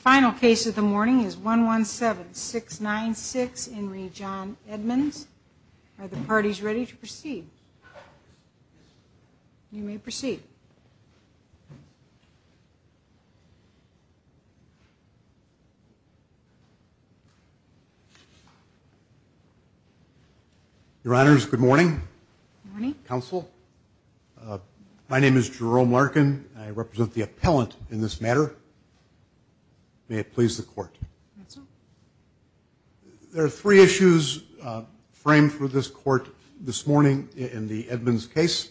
final case of the morning is 117 696 in region Edmonds are the parties ready to proceed you may proceed your honors good morning counsel my name is Jerome Larkin I represent the appellant in this matter may it please the court there are three issues framed for this court this morning in the Edmonds case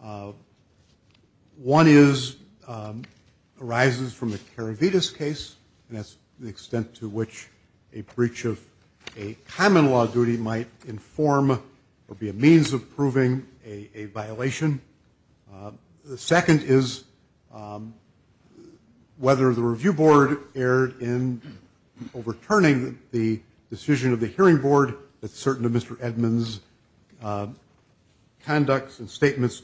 one is arises from the Caravitas case and that's the extent to which a breach of a common law duty might inform or be a means of proving a violation the second is whether the review board erred in overturning the decision of the hearing board that certain of mr. Edmonds conducts and statements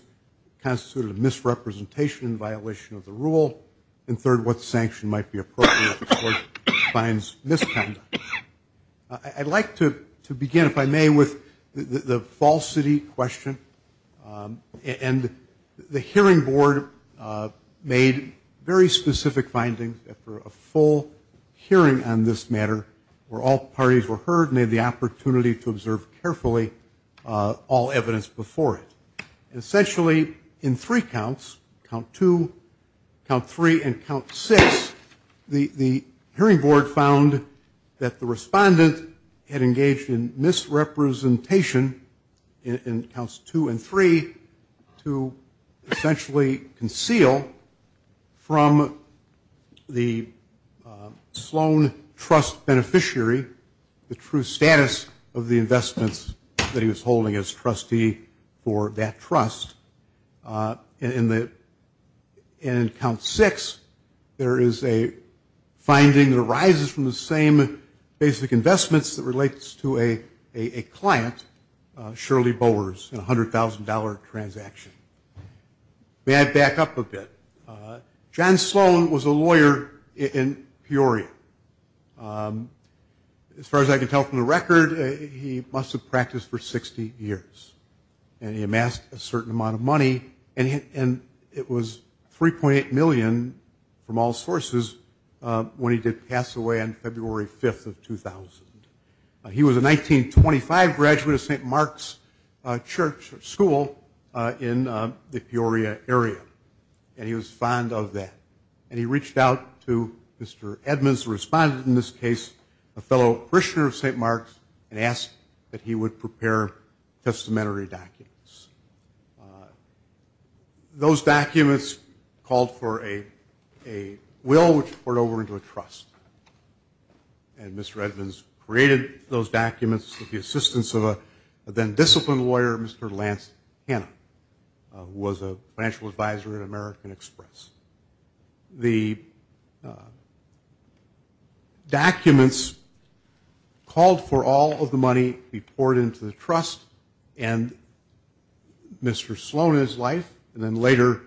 constituted a misrepresentation in violation of the rule and third what sanction might be finds misconduct I'd like to to begin if I may with the falsity question and the hearing board made very specific findings for a full hearing on this matter where all parties were heard made the opportunity to observe carefully all evidence before it essentially in three counts count to count three and count six the the hearing board found that the respondent had engaged in misrepresentation in counts two and three to essentially conceal from the Sloan trust beneficiary the true status of the investments that he was holding as trustee for that trust in the in count six there is a finding that arises from the same basic investments that relates to a a client Shirley Bowers in a hundred thousand dollar transaction may I back up a bit John Sloan was a lawyer in Peoria as far as I can tell from the record he must have practiced for 60 years and he amassed a certain amount of money and and it was 3.8 million from all sources when he did pass away on February 5th of 2000 he was a 1925 graduate of st. Mark's Church school in the Peoria area and he was fond of that and he reached out to mr. Edmonds responded in this case a fellow parishioner of st. Mark's and asked that he would prepare testamentary documents those documents called for a a will which poured over into a trust and mr. Edmonds created those documents with the assistance of a then disciplined lawyer mr. Lance Hanna was a financial advisor at American Express the documents called for all of the money we poured into the trust and mr. Sloan his life and then later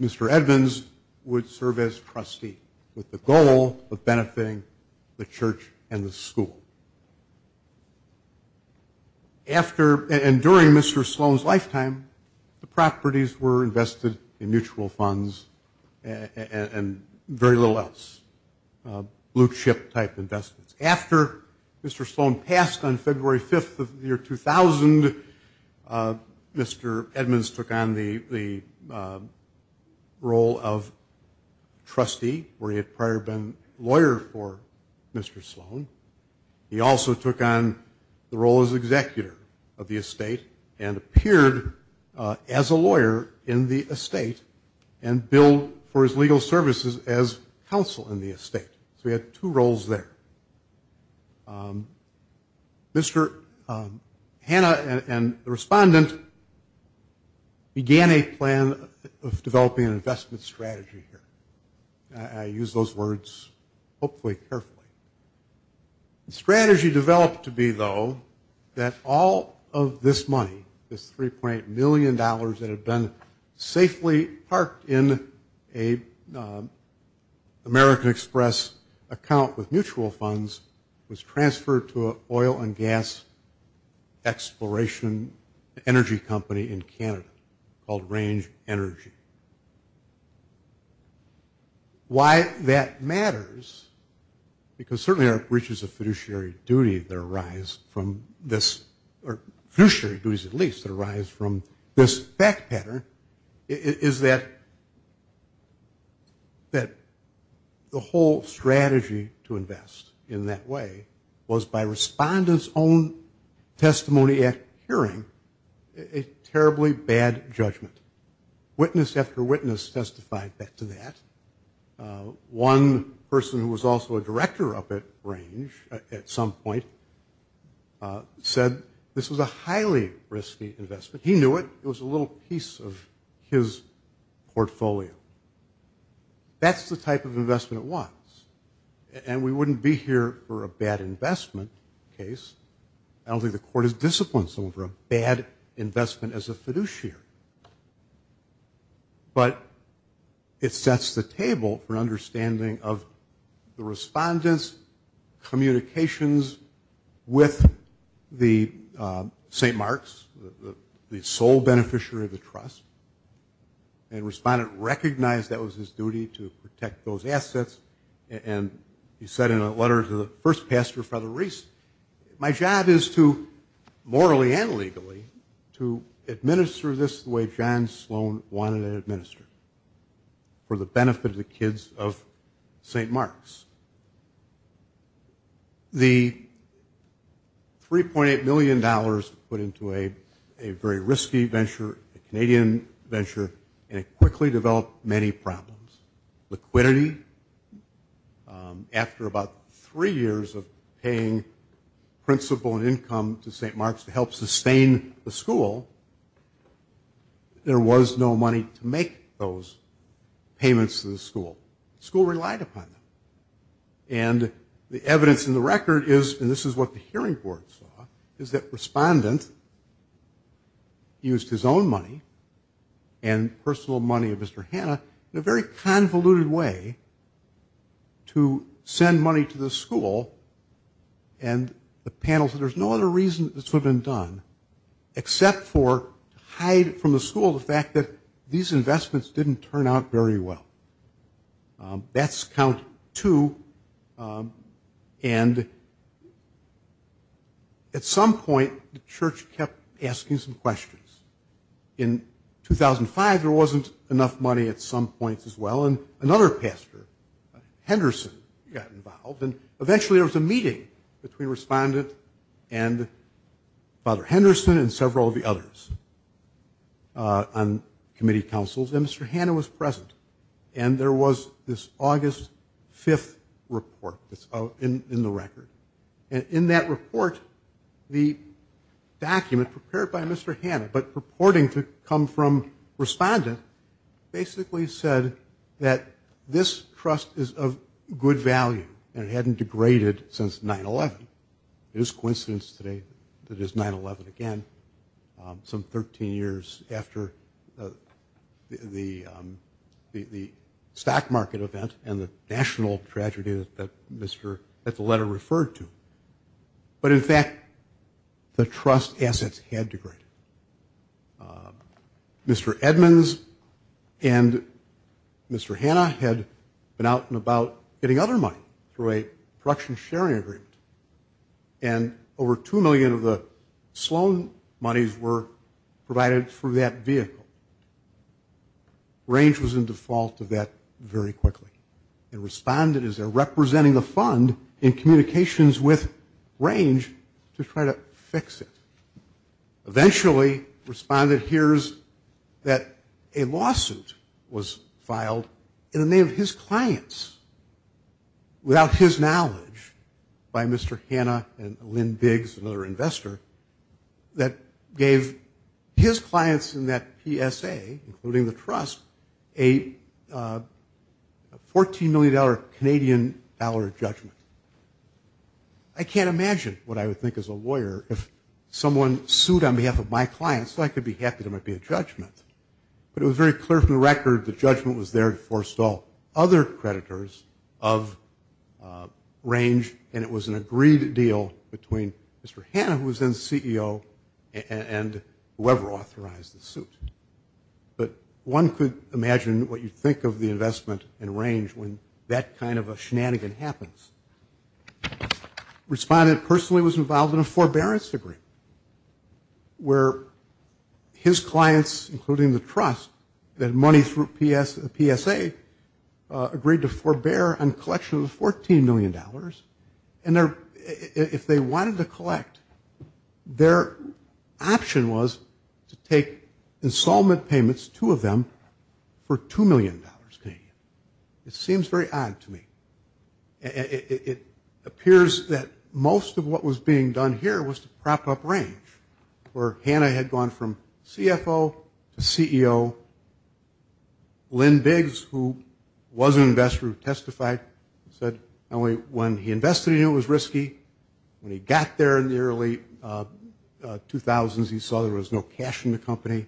mr. Edmonds would serve as trustee with the goal of benefiting the church and the school after and during mr. Sloan's lifetime the properties were invested in mutual funds and very little else blue-chip type investments after mr. Sloan passed on February 5th of the year 2000 mr. Edmonds took on the role of trustee where he had prior been lawyer for mr. Sloan he also took on the role as executor of the estate and appeared as a lawyer in the estate and billed for his legal services as counsel in the estate so we had two roles there mr. Hanna and the respondent began a plan of developing an investment strategy here I use those words hopefully carefully the strategy developed to be though that all of this money is 3.8 million dollars that have been safely parked in a American Express account with mutual funds was transferred to a oil and gas exploration energy company in Canada called range energy why that matters because certainly our breaches of fiduciary duty that arise from this or fiduciary duties at least that arise from this back is that that the whole strategy to invest in that way was by respondents own testimony at hearing a terribly bad judgment witness after witness testified that to that one person who was also a director of it range at some point said this was a highly risky investment he knew it it was a little piece of his portfolio that's the type of investment at once and we wouldn't be here for a bad investment case I don't think the court is disciplined so for a bad investment as a fiduciary but it sets the table for understanding of the st. Mark's the sole beneficiary of the trust and respondent recognized that was his duty to protect those assets and he said in a letter to the first pastor father Reese my job is to morally and legally to administer this the way John Sloan wanted to administer for the benefit of the kids of st. Mark's the 3.8 million dollars put into a a very risky venture a Canadian venture and it quickly developed many problems liquidity after about three years of paying principal and income to st. Mark's to help sustain the school there was no money to make those payments to the school school relied upon them and the evidence in the record is and this is what the hearing board saw is that respondent used his own money and personal money of mr. Hannah in a very convoluted way to send money to the school and the panels that there's no other reason this would have been done except for hide from the school the fact that these investments didn't turn out very well that's count to and at some point the church kept asking some questions in 2005 there wasn't enough money at some points as well and another pastor Henderson got involved and eventually there was a meeting between respondent and father Henderson and committee councils and mr. Hannah was present and there was this August 5th report that's out in the record and in that report the document prepared by mr. Hannah but purporting to come from respondent basically said that this trust is of good value and it hadn't degraded since 9-11 it is coincidence today that is 9-11 again some 13 years after the the stock market event and the national tragedy that mr. that's a letter referred to but in fact the trust assets had degraded mr. Edmonds and mr. Hannah had been out and about getting money through a production sharing agreement and over two million of the Sloan monies were provided for that vehicle range was in default of that very quickly and responded as they're representing the fund in communications with range to try to fix it eventually responded hears that a lawsuit was without his knowledge by mr. Hannah and Lynn Biggs another investor that gave his clients in that PSA including the trust a 14 million dollar Canadian dollar judgment I can't imagine what I would think as a lawyer if someone sued on behalf of my clients so I could be happy there might be a judgment but it was very clear from the record the judgment was there to forestall other creditors of range and it was an agreed deal between mr. Hannah who was then CEO and whoever authorized the suit but one could imagine what you think of the investment and range when that kind of a shenanigan happens respondent personally was involved in a forbearance degree where his clients including the trust that money through PS the PSA agreed to forbear and collection of 14 million dollars and there if they wanted to collect their option was to take installment payments two of them for two million dollars pain it seems very odd to me it appears that most of what was being done here was to prop up range or Hannah had gone from CFO CEO Lynn Biggs who was an investor who testified said only when he invested in it was risky when he got there in the early 2000s he saw there was no cash in the company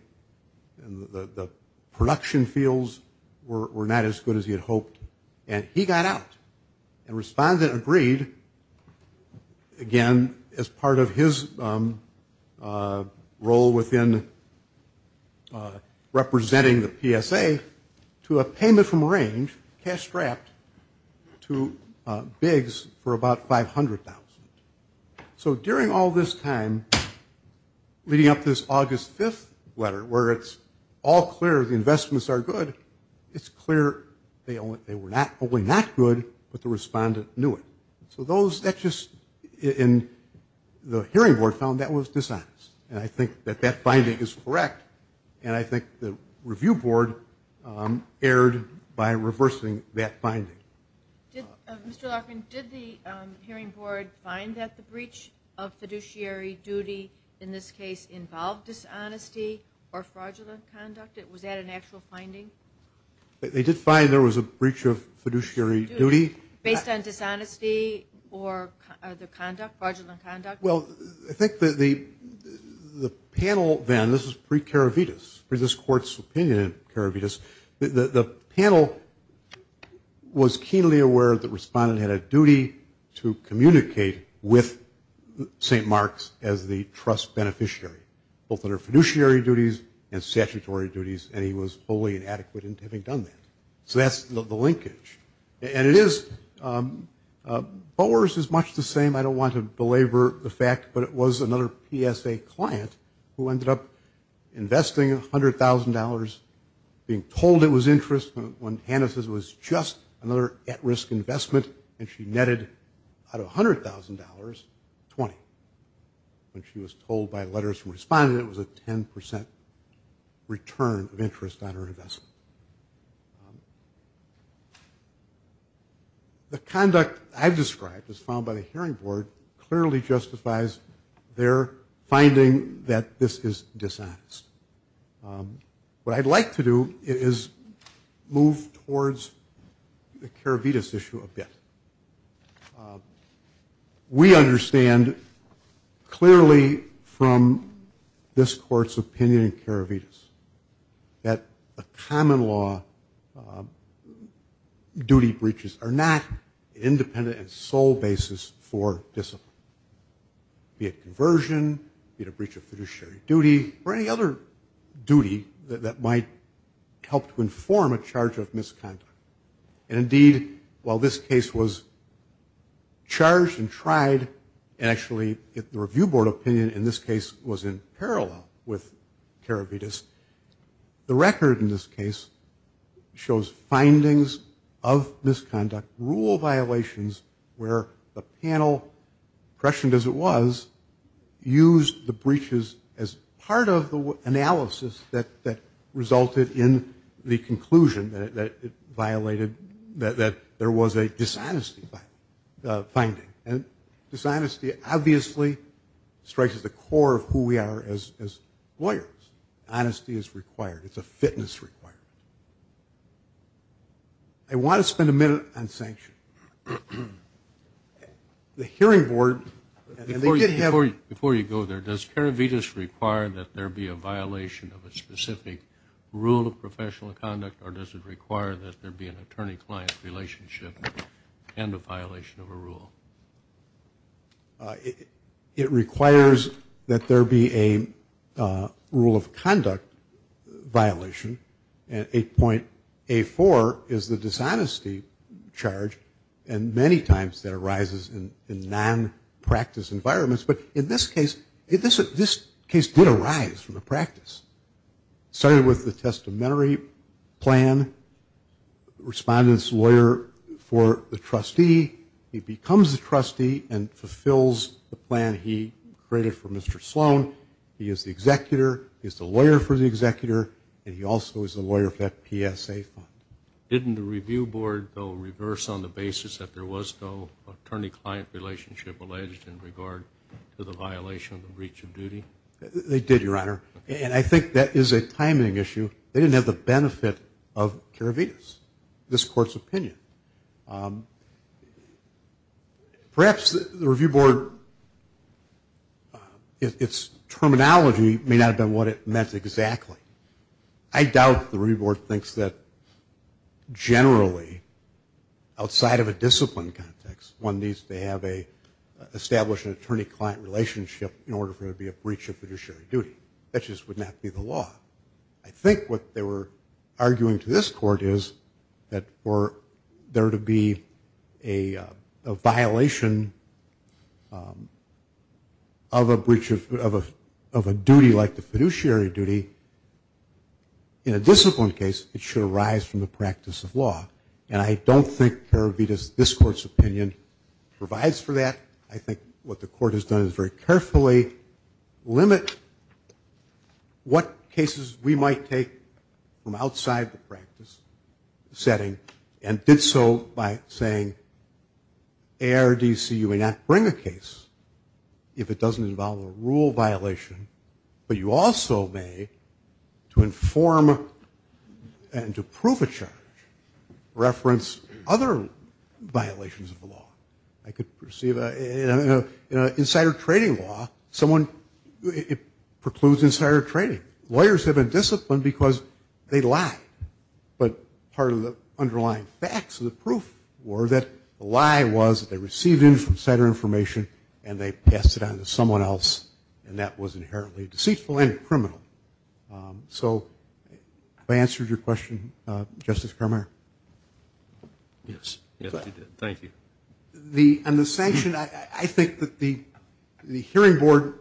and the production fields were not as good as he had hoped and he got out and respondent agreed again as part of his role within representing the PSA to a payment from range cash strapped to bigs for about 500,000 so during all this time leading up this August 5th letter where it's all clear the investments are good it's clear they only they were not only not good but the respondent knew it so those that just in the hearing board found that was dishonest and I think that that finding is correct and I think the review board erred by reversing that finding did the hearing board find that the breach of fiduciary duty in this case involved dishonesty or conduct it was that an actual finding they did find there was a breach of fiduciary duty based on dishonesty or conduct well I think that the the panel then this is pre-karavitas for this court's opinion in karavitas the panel was keenly aware that respondent had a duty to communicate with st. Mark's as the trust beneficiary both under fiduciary duties and statutory duties and he was fully inadequate into having done that so that's the linkage and it is Bowers is much the same I don't want to belabor the fact but it was another PSA client who ended up investing $100,000 being told it was interest when Hannah says was just another at-risk investment and she netted out of $100,000 20 when she was told by letters from responded it was a 10% return of interest on her investment the conduct I've described is found by the hearing board clearly justifies their finding that this is dishonest what I'd to do is move towards the karavitas issue a bit we understand clearly from this court's opinion in karavitas that a common law duty breaches are not independent and sole basis for discipline be it conversion in a breach duty or any other duty that might help to inform a charge of misconduct and indeed while this case was charged and tried and actually if the review board opinion in this case was in parallel with karavitas the record in this case shows findings of misconduct rule violations where the panel questioned as was used the breaches as part of the analysis that that resulted in the conclusion that violated that there was a dishonesty finding and dishonesty obviously strikes at the core of who we are as lawyers honesty is required it's a fitness required I want to spend a minute on sanction the hearing board before you go there does karavitas require that there be a violation of a specific rule of professional conduct or does it require that there be an attorney-client relationship and a violation of a rule it requires that there be a rule of conduct violation and a point a four is the dishonesty charge and many times that arises in non-practice environments but in this case if this is this case did arise from the practice started with the testamentary plan respondents lawyer for the trustee he becomes the trustee and fulfills the plan he created for mr. Sloan he is the executor is the lawyer for the executor and he also is the lawyer of that PSA fund didn't the basis that there was no attorney-client relationship alleged in regard to the violation of the breach of duty they did your honor and I think that is a timing issue they didn't have the benefit of karavitas this court's opinion perhaps the Review Board its terminology may not have done what it meant exactly I doubt the reward thinks that generally outside of a discipline context one needs to have a established an attorney-client relationship in order for it to be a breach of fiduciary duty that just would not be the law I think what they were arguing to this court is that for there to be a violation of a of a duty like the fiduciary duty in a discipline case it should arise from the practice of law and I don't think her Vitas this court's opinion provides for that I think what the court has done is very carefully limit what cases we might take from outside the practice setting and did so by saying air DC you may not bring a case if it doesn't involve a rule violation but you also may to inform and to prove a charge reference other violations of the law I could perceive a insider trading law someone it precludes insider trading lawyers have a discipline because they lie but part of the underlying facts of the and they passed it on to someone else and that was inherently deceitful and criminal so I answered your question justice Kramer yes thank you the understanding I think that the the hearing board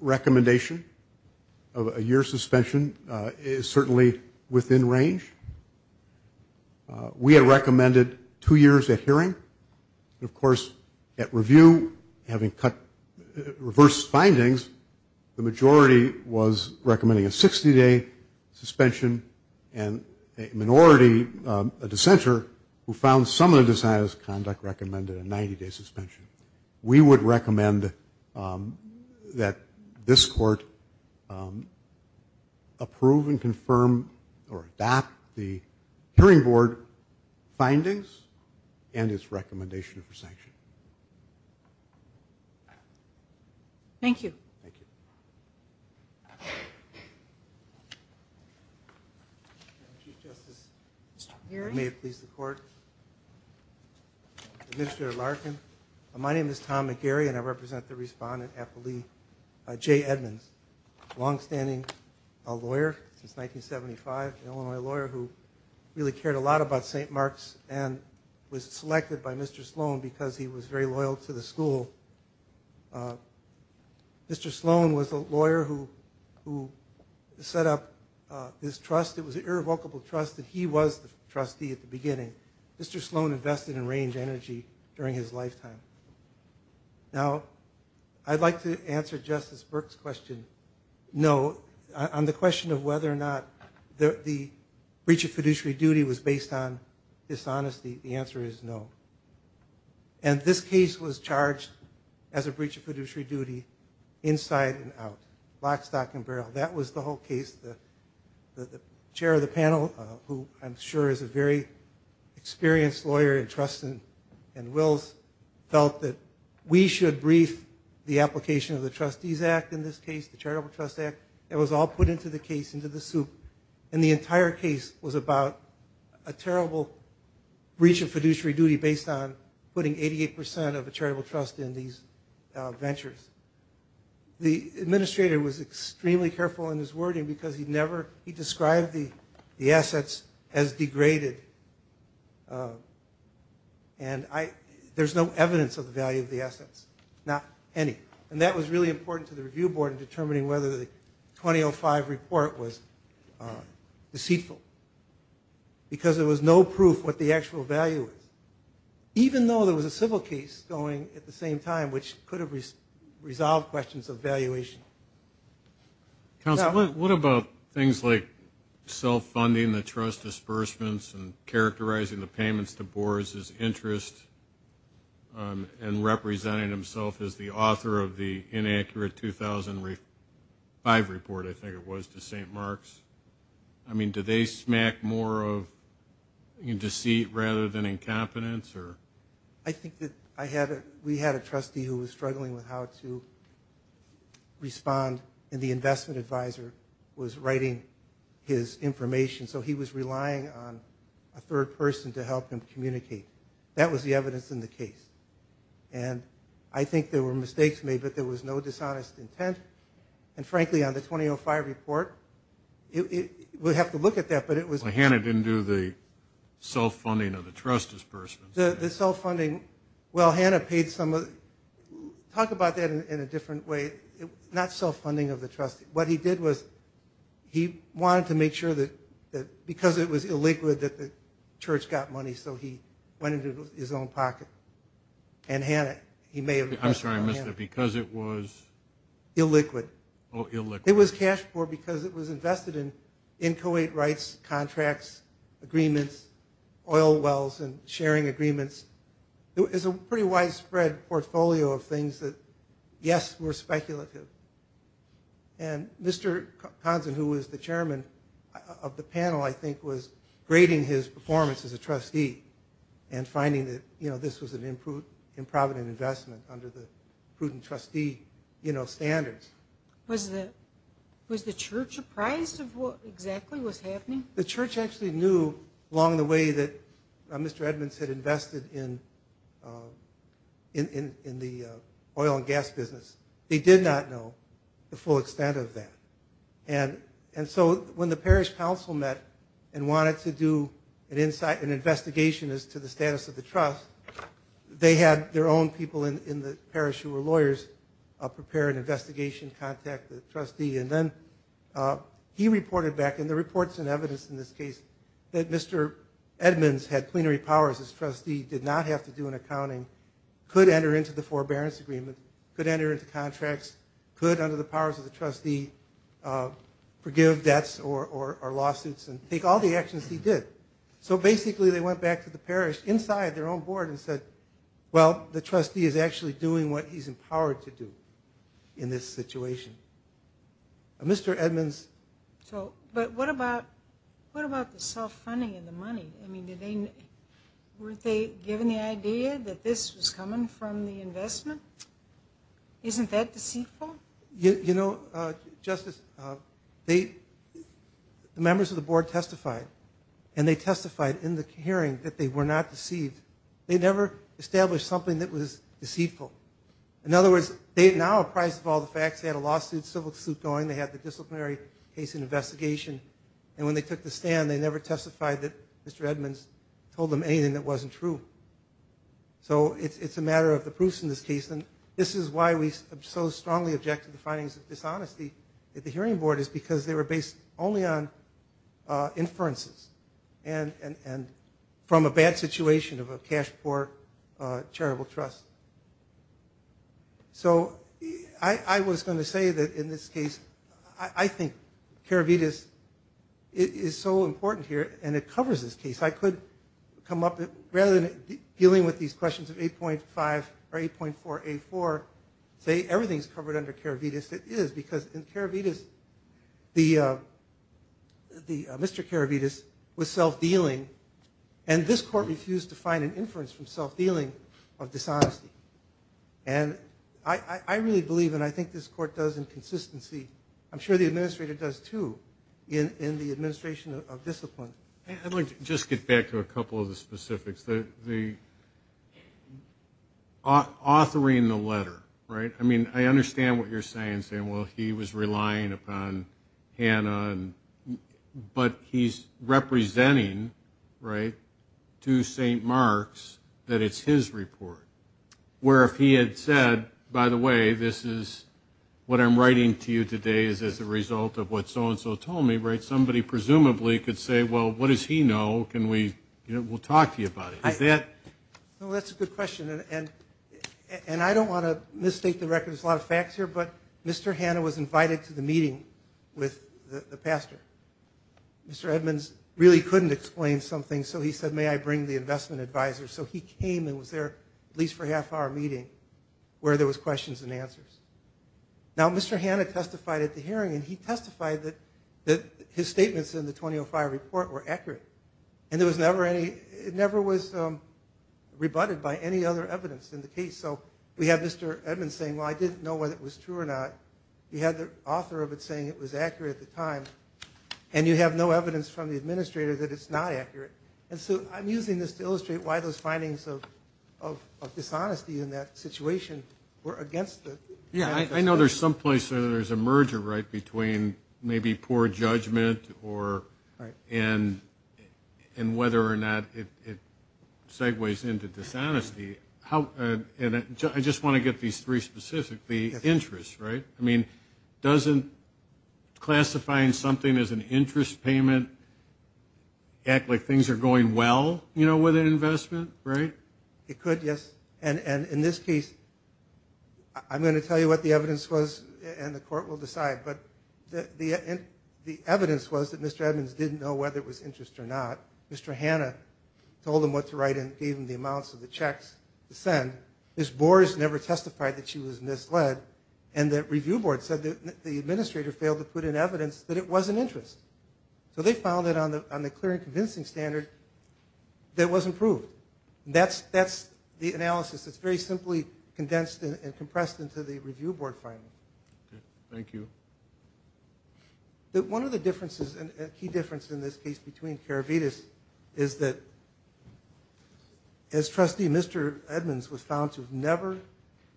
recommendation of a year suspension is certainly within range we had recommended two years at hearing of course at review having cut reverse findings the majority was recommending a 60-day suspension and a minority dissenter who found some of the desires conduct recommended a 90-day suspension we would recommend that this court approve and confirm or adopt the hearing board findings and its recommendation for sanction thank you here may please the court mr. Larkin my name is Tom McGarry and I represent the respondent happily Jay Edmonds long-standing a lawyer since 1975 Illinois who really cared a lot about st. Mark's and was selected by mr. Sloan because he was very loyal to the school mr. Sloan was a lawyer who who set up his trust it was an irrevocable trust that he was the trustee at the beginning mr. Sloan invested in range energy during his lifetime now I'd like to answer justice question no on the question of whether or not the breach of fiduciary duty was based on dishonesty the answer is no and this case was charged as a breach of fiduciary duty inside and out black stock and barrel that was the whole case the chair of the panel who I'm sure is a very experienced lawyer and trust and felt that we should brief the application of the trustees act in this case the charitable trust act it was all put into the case into the soup and the entire case was about a terrible breach of fiduciary duty based on putting 88 percent of the charitable trust in these ventures the administrator was extremely careful in his wording because he'd never he described the the assets as there's no evidence of the value of the assets not any and that was really important to the review board in determining whether the 2005 report was deceitful because there was no proof what the actual value even though there was a civil case going at the same time which could have resolved questions of valuation what about things like self funding the trust disbursements and and representing himself as the author of the inaccurate 2005 report I think it was to st. Mark's I mean did they smack more of in deceit rather than incompetence or I think that I had we had a trustee who was struggling with how to respond in the investment advisor was writing his information so he was and I think there were mistakes made but there was no dishonest intent and frankly on the 2005 report it would have to look at that but it was a hand it into the self-funding of the trust as first the self-funding well Hannah paid some of talk about that in a different way not self-funding of the trust what he did was he wanted to make sure that because it was illiquid that the church got money so he went into his own pocket and Hannah he made I'm sorry mr. because it was illiquid oh it was cash for because it was invested in inchoate rights contracts agreements oil wells and sharing agreements there is a pretty widespread portfolio of things that yes were speculative and mr. Hansen who was the chairman of the panel I think was grading his performance as a trustee and finding that you know this was an improved in provident investment under the prudent trustee you know standards was that was the church apprised of what exactly was happening the church actually knew along the way that mr. Edmonds had invested in in the oil and gas business they did not know the full extent of that and and so when the parish council met and wanted to do an insight an investigation as to the status of the trust they had their own people in the parish who were lawyers prepare an investigation contact the trustee and then he reported back in the reports and evidence in this case that mr. Edmonds had plenary powers as trustee did not have to do an accounting could enter into the forbearance agreement could enter into contracts could under the powers of the trustee forgive debts or lawsuits and take all the actions he did so basically they went back to the parish inside their own board and said well the trustee is actually doing what he's empowered to do in this situation mr. Edmonds so but what about what about the self-funding in the money I mean didn't they given the idea that this was coming from the investment isn't that you know justice they the members of the board testified and they testified in the hearing that they were not deceived they never established something that was deceitful in other words they now apprised of all the facts they had a lawsuit civil suit going they had the disciplinary case an investigation and when they took the stand they never testified that mr. Edmonds told them anything that wasn't true so it's a matter of the proofs in this case and this is why we so strongly object to the findings of dishonesty at the hearing board is because they were based only on inferences and and and from a bad situation of a cash for charitable trust so I was going to say that in this case I think Cara Vidas is so important here and it covers this case I could come up rather than dealing with these questions of 8.5 or 8.4 a4 say everything's covered under Cara Vidas it is because in Cara Vidas the the mr. Cara Vidas was self-dealing and this court refused to find an inference from self-dealing of dishonesty and I I really believe and I think this court does inconsistency I'm sure the administrator does too in in the administration of discipline I want just get back to a couple of the specifics that the authoring the letter right I mean I understand what you're saying saying well he was relying upon Hannah and but he's representing right to st. Mark's that it's his report where if he had said by the way this is what I'm writing to you today is as a result of what so-and-so told me right somebody presumably could say well what does he know can we you know we'll talk to you about it is that no that's a good question and and I don't want to mistake the record there's a lot of facts here but mr. Hannah was invited to the meeting with the pastor mr. Edmonds really couldn't explain something so he said may I bring the investment advisor so he came and was there at least for a half-hour meeting where there was questions and answers now mr. Hannah testified at the hearing and he testified that that his statements in the 2005 report were accurate and there was never any it never was rebutted by any other evidence in the case so we have mr. Edmonds saying well I didn't know what it was true or not you had the author of it saying it was accurate at the time and you have no evidence from the administrator that it's not accurate and so I'm using this to illustrate why those findings of dishonesty in that situation were against the yeah I know there's a merger right between maybe poor judgment or right and and whether or not it segues into dishonesty how and I just want to get these three specifically interest right I mean doesn't classifying something as an interest payment act like things are going well you know with an investment right it could yes and and in this case I'm going to tell you what the evidence was and the court will decide but the the evidence was that mr. Edmonds didn't know whether it was interest or not mr. Hannah told him what to write and gave him the amounts of the checks to send this bores never testified that she was misled and that review board said that the administrator failed to put in evidence that it wasn't interest so they found it on the on the clear and convincing standard that was improved that's that's the analysis it's very simply condensed and compressed into the review board final thank you that one of the differences and a key difference in this case between carabiners is that as trustee mr. Edmonds was found to have never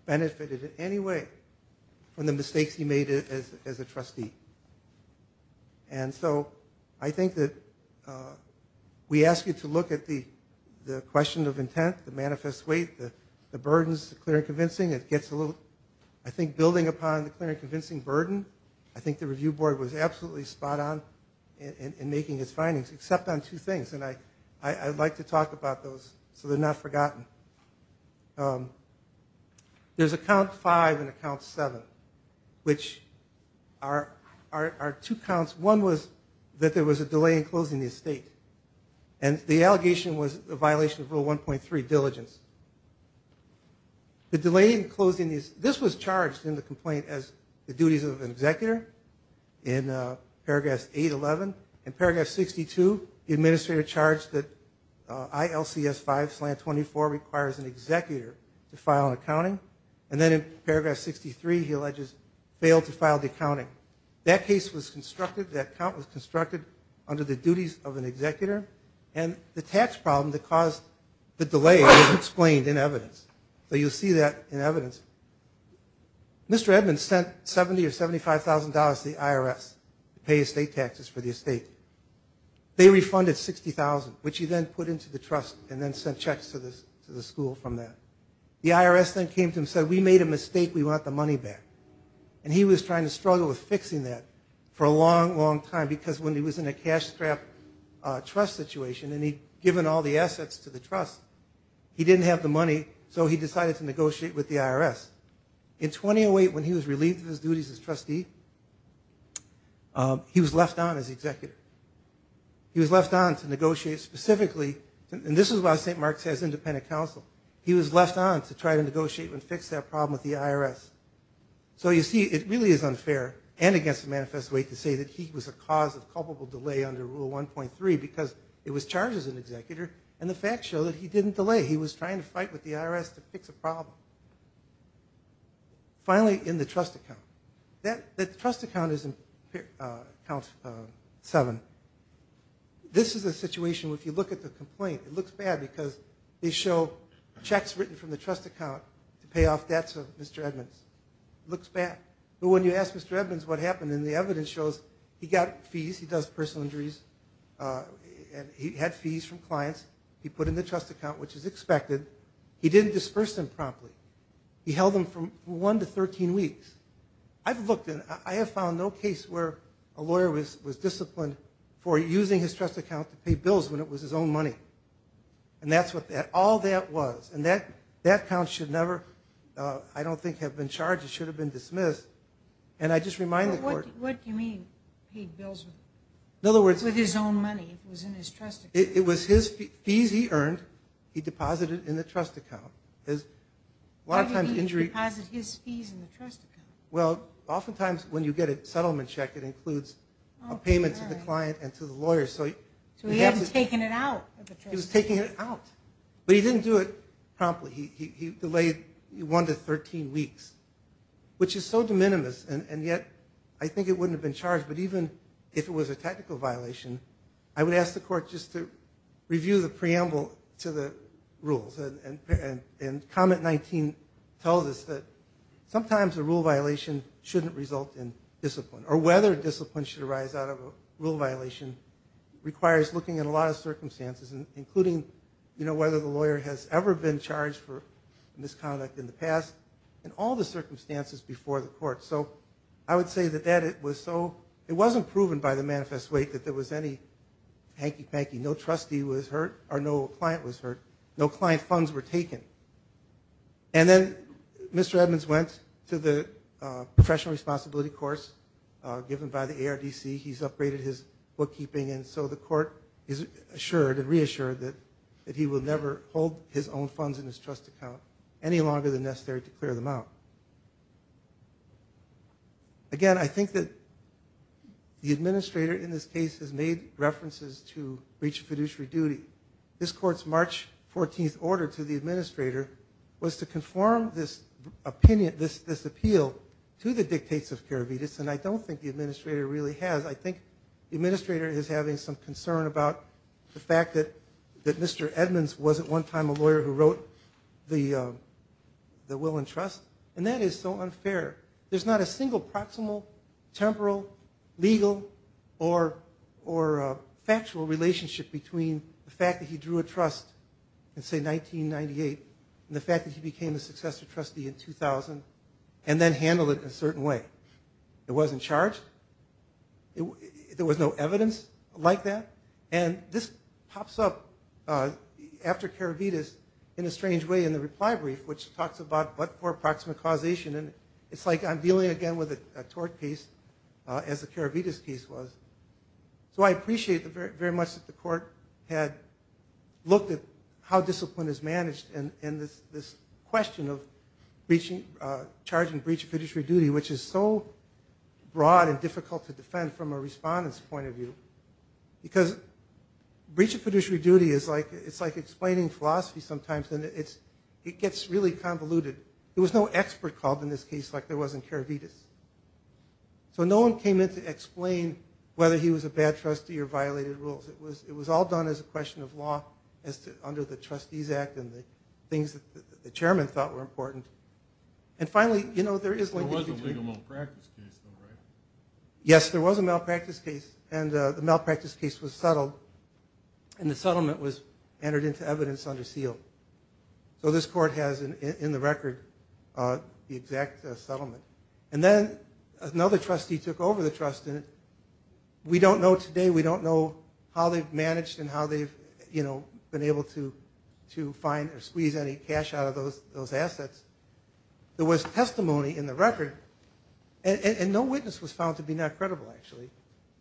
benefited in any way from the mistakes he made it as a trustee and so I think that we ask you to look at the the question of intent the manifest weight the burdens clear convincing it gets a little I think building upon the clear and convincing burden I think the review board was absolutely spot-on in making his findings except on two things and I I'd like to talk about those so they're not forgotten there's a count five and a count seven which are our two counts one was that there was a delay in closing the estate and the allegation was a 1.3 diligence the delay in closing is this was charged in the complaint as the duties of an executor in paragraphs 811 and paragraph 62 the administrator charged that I LCS 5 slant 24 requires an executor to file an accounting and then in paragraph 63 he alleges failed to file the accounting that case was constructed that count was constructed under the duties of an executor and the tax problem that caused the delay explained in evidence so you'll see that in evidence mr. Edmonds sent 70 or 75 thousand dollars the IRS to pay estate taxes for the estate they refunded sixty thousand which he then put into the trust and then sent checks to this to the school from that the IRS then came to him said we made a mistake we want the money back and he was trying to struggle with fixing that for a long long time because when he was in a cash trap trust situation and he given all the assets to the trust he didn't have the money so he decided to negotiate with the IRS in 2008 when he was relieved of his duties as trustee he was left on as the executor he was left on to negotiate specifically and this is why st. Mark's has independent counsel he was left on to try to negotiate and fix that problem with the IRS so you see it really is unfair and against the manifest way to say that he was a cause of culpable delay under rule 1.3 because it was charged as an executor and the fact show that he didn't delay he was trying to fight with the IRS to fix a problem finally in the trust account that the trust account is in count seven this is a situation if you look at the complaint it looks bad because they show checks written from the trust account to pay off debts of mr. Edmonds looks bad but when you ask mr. Edmonds what happened in the evidence shows he got fees he does personal injuries and he had fees from clients he put in the trust account which is expected he didn't disperse them promptly he held them from 1 to 13 weeks I've looked in I have found no case where a lawyer was was disciplined for using his trust account to pay bills when it was his own money and that's what that all that was and that that counts should never I don't think have been charged it should have been in other words with his own money it was his fees he earned he deposited in the trust account is a lot of times injury well oftentimes when you get a settlement check it includes a payment to the client and to the lawyer so he hasn't taken it out he was taking it out but he didn't do it promptly he delayed you wanted 13 weeks which is so de minimis and yet I think it wouldn't have been charged but even if it was a technical violation I would ask the court just to review the preamble to the rules and and and comment 19 tells us that sometimes a rule violation shouldn't result in discipline or whether discipline should arise out of a rule violation requires looking at a lot of circumstances and including you know whether the lawyer has ever been charged for misconduct in the past and all the circumstances before the court so I would say that that it was so it wasn't proven by the manifest weight that there was any hanky-panky no trustee was hurt or no client was hurt no client funds were taken and then mr. Edmonds went to the professional responsibility course given by the ARDC he's upgraded his bookkeeping and so the court is assured and reassured that that he will never hold his own funds in his trust account any longer than necessary to clear them out again I think that the administrator in this case has made references to reach fiduciary duty this courts March 14th order to the administrator was to conform this opinion this this appeal to the dictates of carabinets and I don't think the administrator really has I think the administrator is having some concern about the fact that that mr. Edmonds wasn't one time a lawyer who wrote the the will and trust and that is so unfair there's not a single proximal temporal legal or or factual relationship between the fact that he drew a trust and say 1998 and the fact that he became a successor trustee in 2000 and then handled it a certain way it wasn't charged there was no evidence like that and this pops up after carabinets in a strange way in the reply brief which talks about but for proximate causation and it's like I'm dealing again with a tort case as a carabinets case was so I appreciate the very much that the court had looked at how discipline is managed and in this this question of reaching charging breach of fiduciary duty which is so broad and difficult to defend from a respondents point of view because breach of fiduciary duty is like it's like explaining philosophy sometimes and it's it gets really convoluted there was no expert called in this case like there wasn't carabinets so no one came in to explain whether he was a bad trustee or violated rules it was it was all done as a question of law as to under the trustees act and the things that the and finally you know there is one yes there was a malpractice case and the malpractice case was settled and the settlement was entered into evidence under seal so this court has an in the record the exact settlement and then another trustee took over the trust in it we don't know today we don't know how they've managed and how they've you know been able to to find or squeeze any cash out of those those assets there was testimony in the record and no witness was found to be not credible actually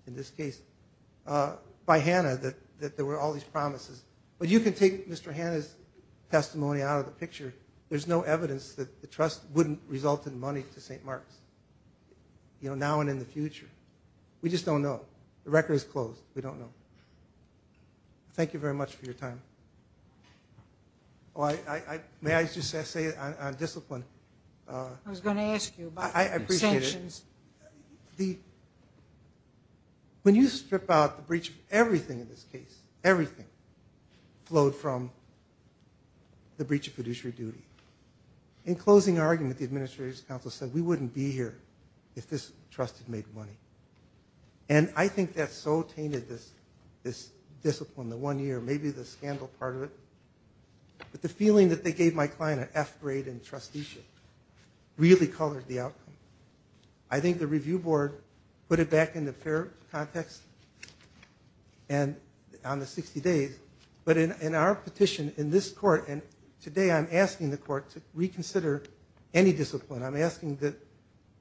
in this case by Hannah that that there were all these promises but you can take mr. Hannah's testimony out of the picture there's no evidence that the trust wouldn't result in money to st. Mark's you know now and in the future we just don't know the record is closed we don't thank you very much for your time oh I may I just say it on discipline I was going to ask you I appreciate it the when you strip out the breach of everything in this case everything flowed from the breach of fiduciary duty in closing argument the administrators council said we wouldn't be here if this trusted made money and I think that's so tainted this this discipline the one year maybe the scandal part of it but the feeling that they gave my client an f-grade and trusteeship really colored the outcome I think the review board put it back in the fair context and on the 60 days but in our petition in this court and today I'm asking the court to reconsider any discipline I'm asking that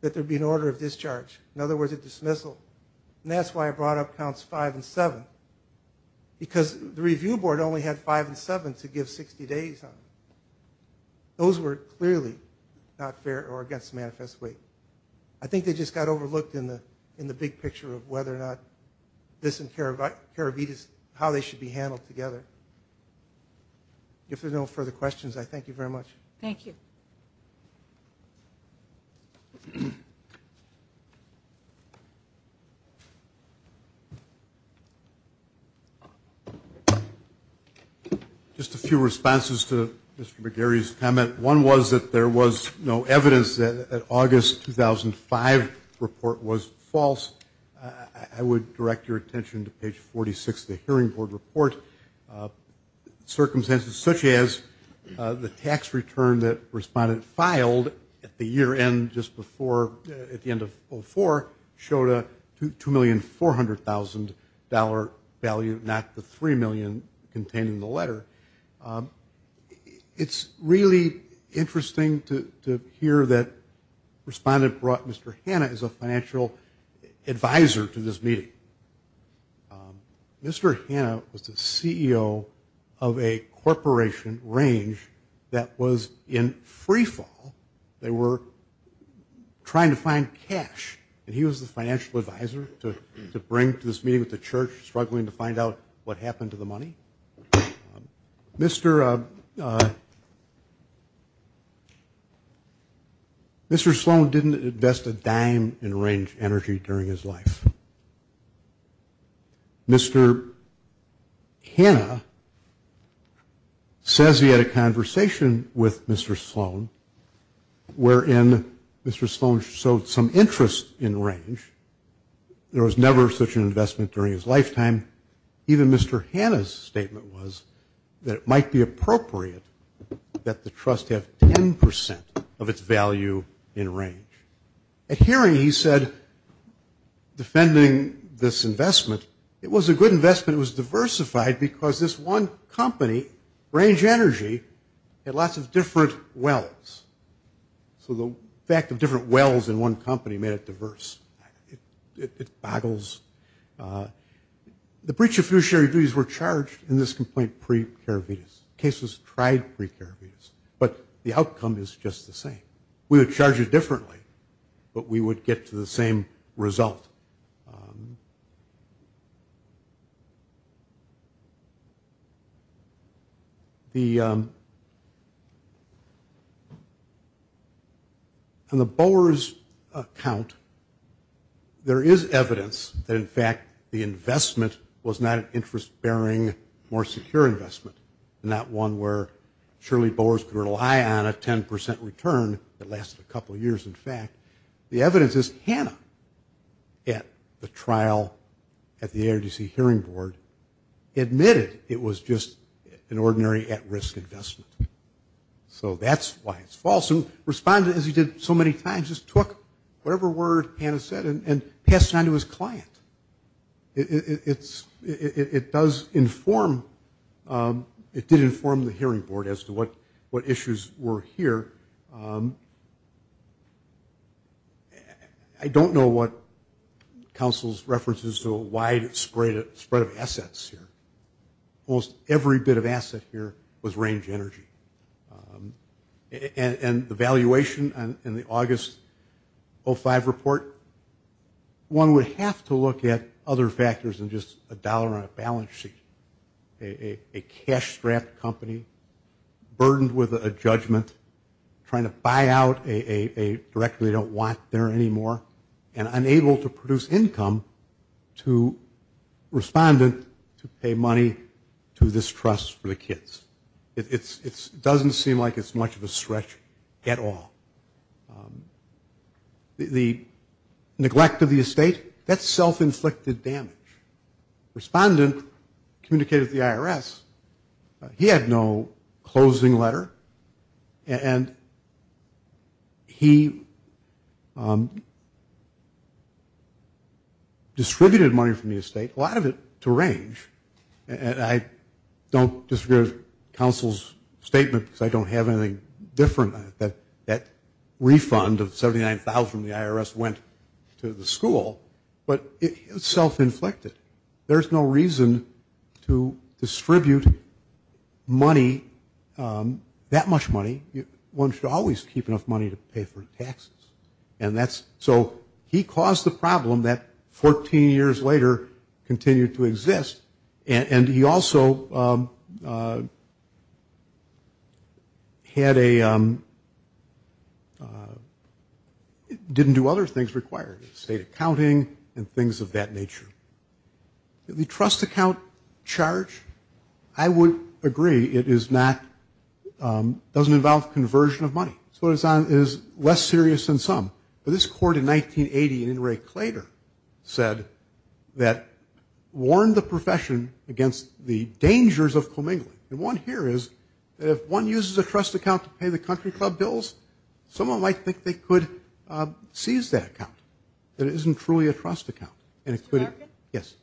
that there be an order of discharge in other words a dismissal and that's why I brought up counts five and seven because the review board only had five and seven to give 60 days on those were clearly not fair or against manifest weight I think they just got overlooked in the in the big picture of whether or not this in care of I care of eat is how they should be handled together if there further questions I thank you very much thank you just a few responses to mr. McGarry's comment one was that there was no evidence that August 2005 report was false I would direct your attention to the tax return that responded filed at the year end just before at the end of four showed a two million four hundred thousand dollar value not the three million containing the letter it's really interesting to hear that respondent brought mr. Hanna is a financial advisor to this meeting mr. was the CEO of a corporation range that was in freefall they were trying to find cash and he was the financial advisor to bring to this meeting with the church struggling to find out what happened to the money mr. mr. Sloan didn't invest a range energy during his life mr. Hannah says he had a conversation with mr. Sloan wherein mr. Sloan showed some interest in range there was never such an investment during his lifetime even mr. Hannah's statement was that it might be appropriate that the trust have 10% of its value in range at hearing he said defending this investment it was a good investment was diversified because this one company range energy had lots of different wells so the fact of different wells in one company made it diverse it boggles the breach of fiduciary duties were charged in this complaint pre-care Venus cases tried pre-care Venus but the outcome is just the same we would charge it differently but we would get to the same result the and the Boers account there is evidence that in fact the investment was not an interest-bearing more secure investment and that one where surely Boers could rely on a 10% return that lasted a couple years in fact the evidence is Hannah at the trial at the ARDC hearing board admitted it was just an ordinary at-risk investment so that's why it's false and responded as he did so many times just took whatever word Hannah said and passed it on to his client it's it does inform it did inform the hearing board as to what what issues were here I don't know what council's references to a wide spread of spread of assets here almost every bit of asset here was range energy and the valuation and in the August 05 report one would have to look at other factors than just a dollar on a balance sheet a cash-strapped company burdened with a judgment trying to buy out a directly don't want there anymore and unable to produce income to respondent to pay money to this trust for the kids it's it's doesn't seem like it's much of a stretch at all the neglect of the estate that's self-inflicted damage respondent communicated the IRS he had no closing letter and he distributed money from the estate a lot of it to range and I don't disagree with counsel's statement because I don't have anything different that that refund of 79,000 the IRS went to the distribute money that much money you want you to always keep enough money to pay for taxes and that's so he caused the problem that 14 years later continued to exist and he also had a didn't do other things required state accounting and things of that nature the trust account charge I would agree it is not doesn't involve conversion of money so it's on is less serious than some but this court in 1980 and Ray Claytor said that warned the profession against the dangers of commingling and one here is that if one uses a trust account to pay the country club bills someone might think they could seize that account that isn't truly a trust account yes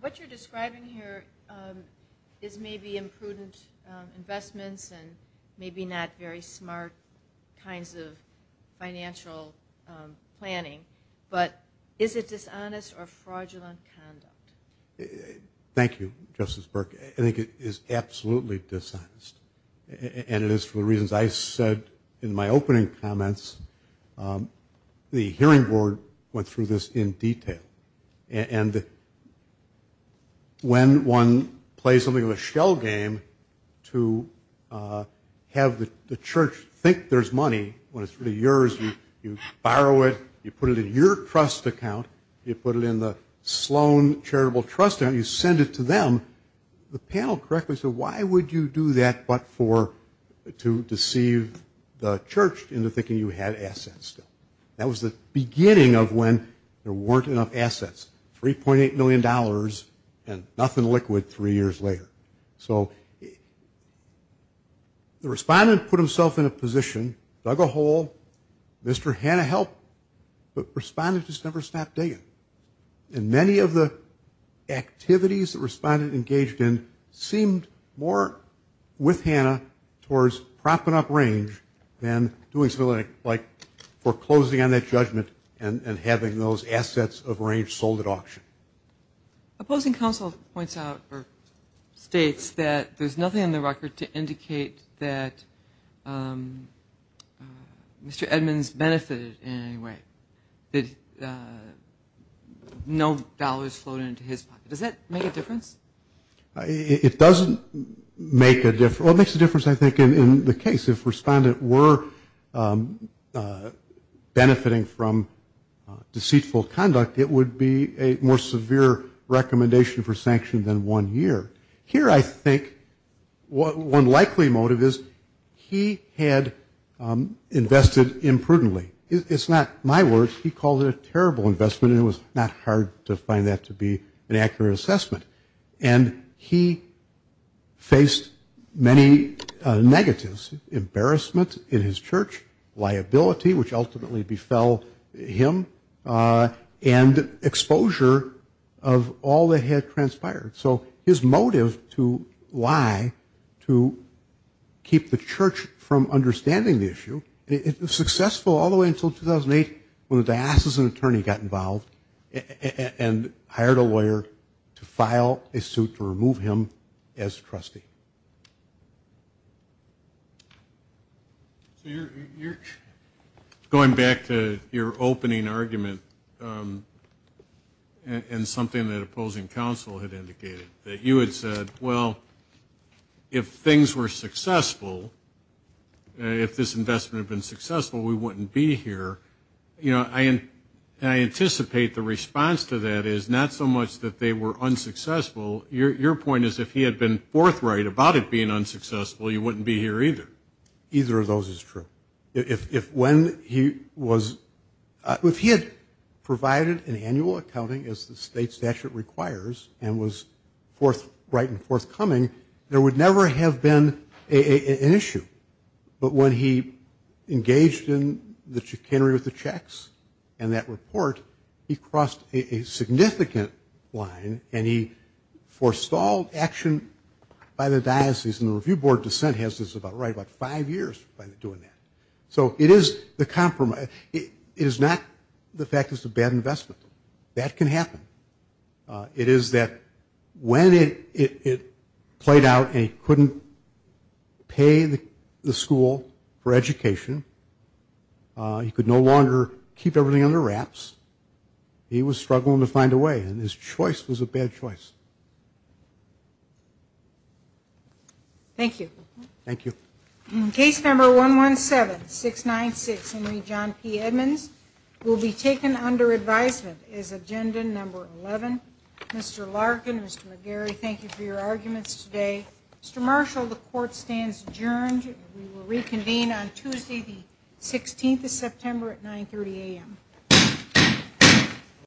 what you're describing here is maybe imprudent investments and maybe not very smart kinds of financial planning but is it dishonest or fraudulent conduct thank you Justice Burke I think it is absolutely dishonest and it is for the reasons I said in my opening comments the hearing board went through this in detail and when one plays something of a shell game to have the church think there's money when it's for the years you borrow it you put it in your trust account you put it in the Sloan charitable trust and you send it to them the panel correctly so why would you do that but for to deceive the church into thinking you had assets that was the beginning of when there weren't enough assets 3.8 million dollars and nothing liquid three years later so the respondent put himself in a position dug a hole mr. Hannah helped but responded just never stopped digging and of the activities that responded engaged in seemed more with Hannah towards propping up range and doing something like foreclosing on that judgment and having those assets of range sold at auction opposing counsel points out or states that there's nothing in the record to indicate that mr. Edmonds benefited anyway did no dollars flowed into his pocket does that make a difference it doesn't make a difference what makes a difference I think in the case if respondent were benefiting from deceitful conduct it would be a more severe recommendation for sanction than one year here I think what one likely motive is he had invested imprudently it's not my words he called it a terrible investment it was not hard to find that to be an accurate assessment and he faced many negatives embarrassment in his church liability which ultimately befell him and exposure of all that had transpired so his motive to lie to keep the church from understanding the issue it was successful all the way until 2008 when the diocesan attorney got involved and hired a lawyer to file a suit to remove him as trustee going back to your opening argument and something that opposing counsel had indicated that you had said well if things were successful if this investment been successful we wouldn't be here you know I and I anticipate the response to that is not so much that they were unsuccessful your point is if he had been forthright about it being unsuccessful you wouldn't be here either either of those is true if when he was if he had provided an annual accounting as the state statute requires and was forthright and forthcoming there would never have been an issue but when he engaged in the chicanery with the checks and that report he crossed a significant line and he forestalled action by the diocese and the Review Board dissent has this about right about five years by doing that so it is the that when it played out he couldn't pay the school for education he could no longer keep everything under wraps he was struggling to find a way and his choice was a bad choice thank you thank you in case number one one seven six nine six Henry John P Edmonds will be taken under advisement is agenda number 11 mr. Larkin mr. McGarry thank you for your arguments today mr. Marshall the court stands adjourned we will reconvene on Tuesday the 16th of September at 930 a.m.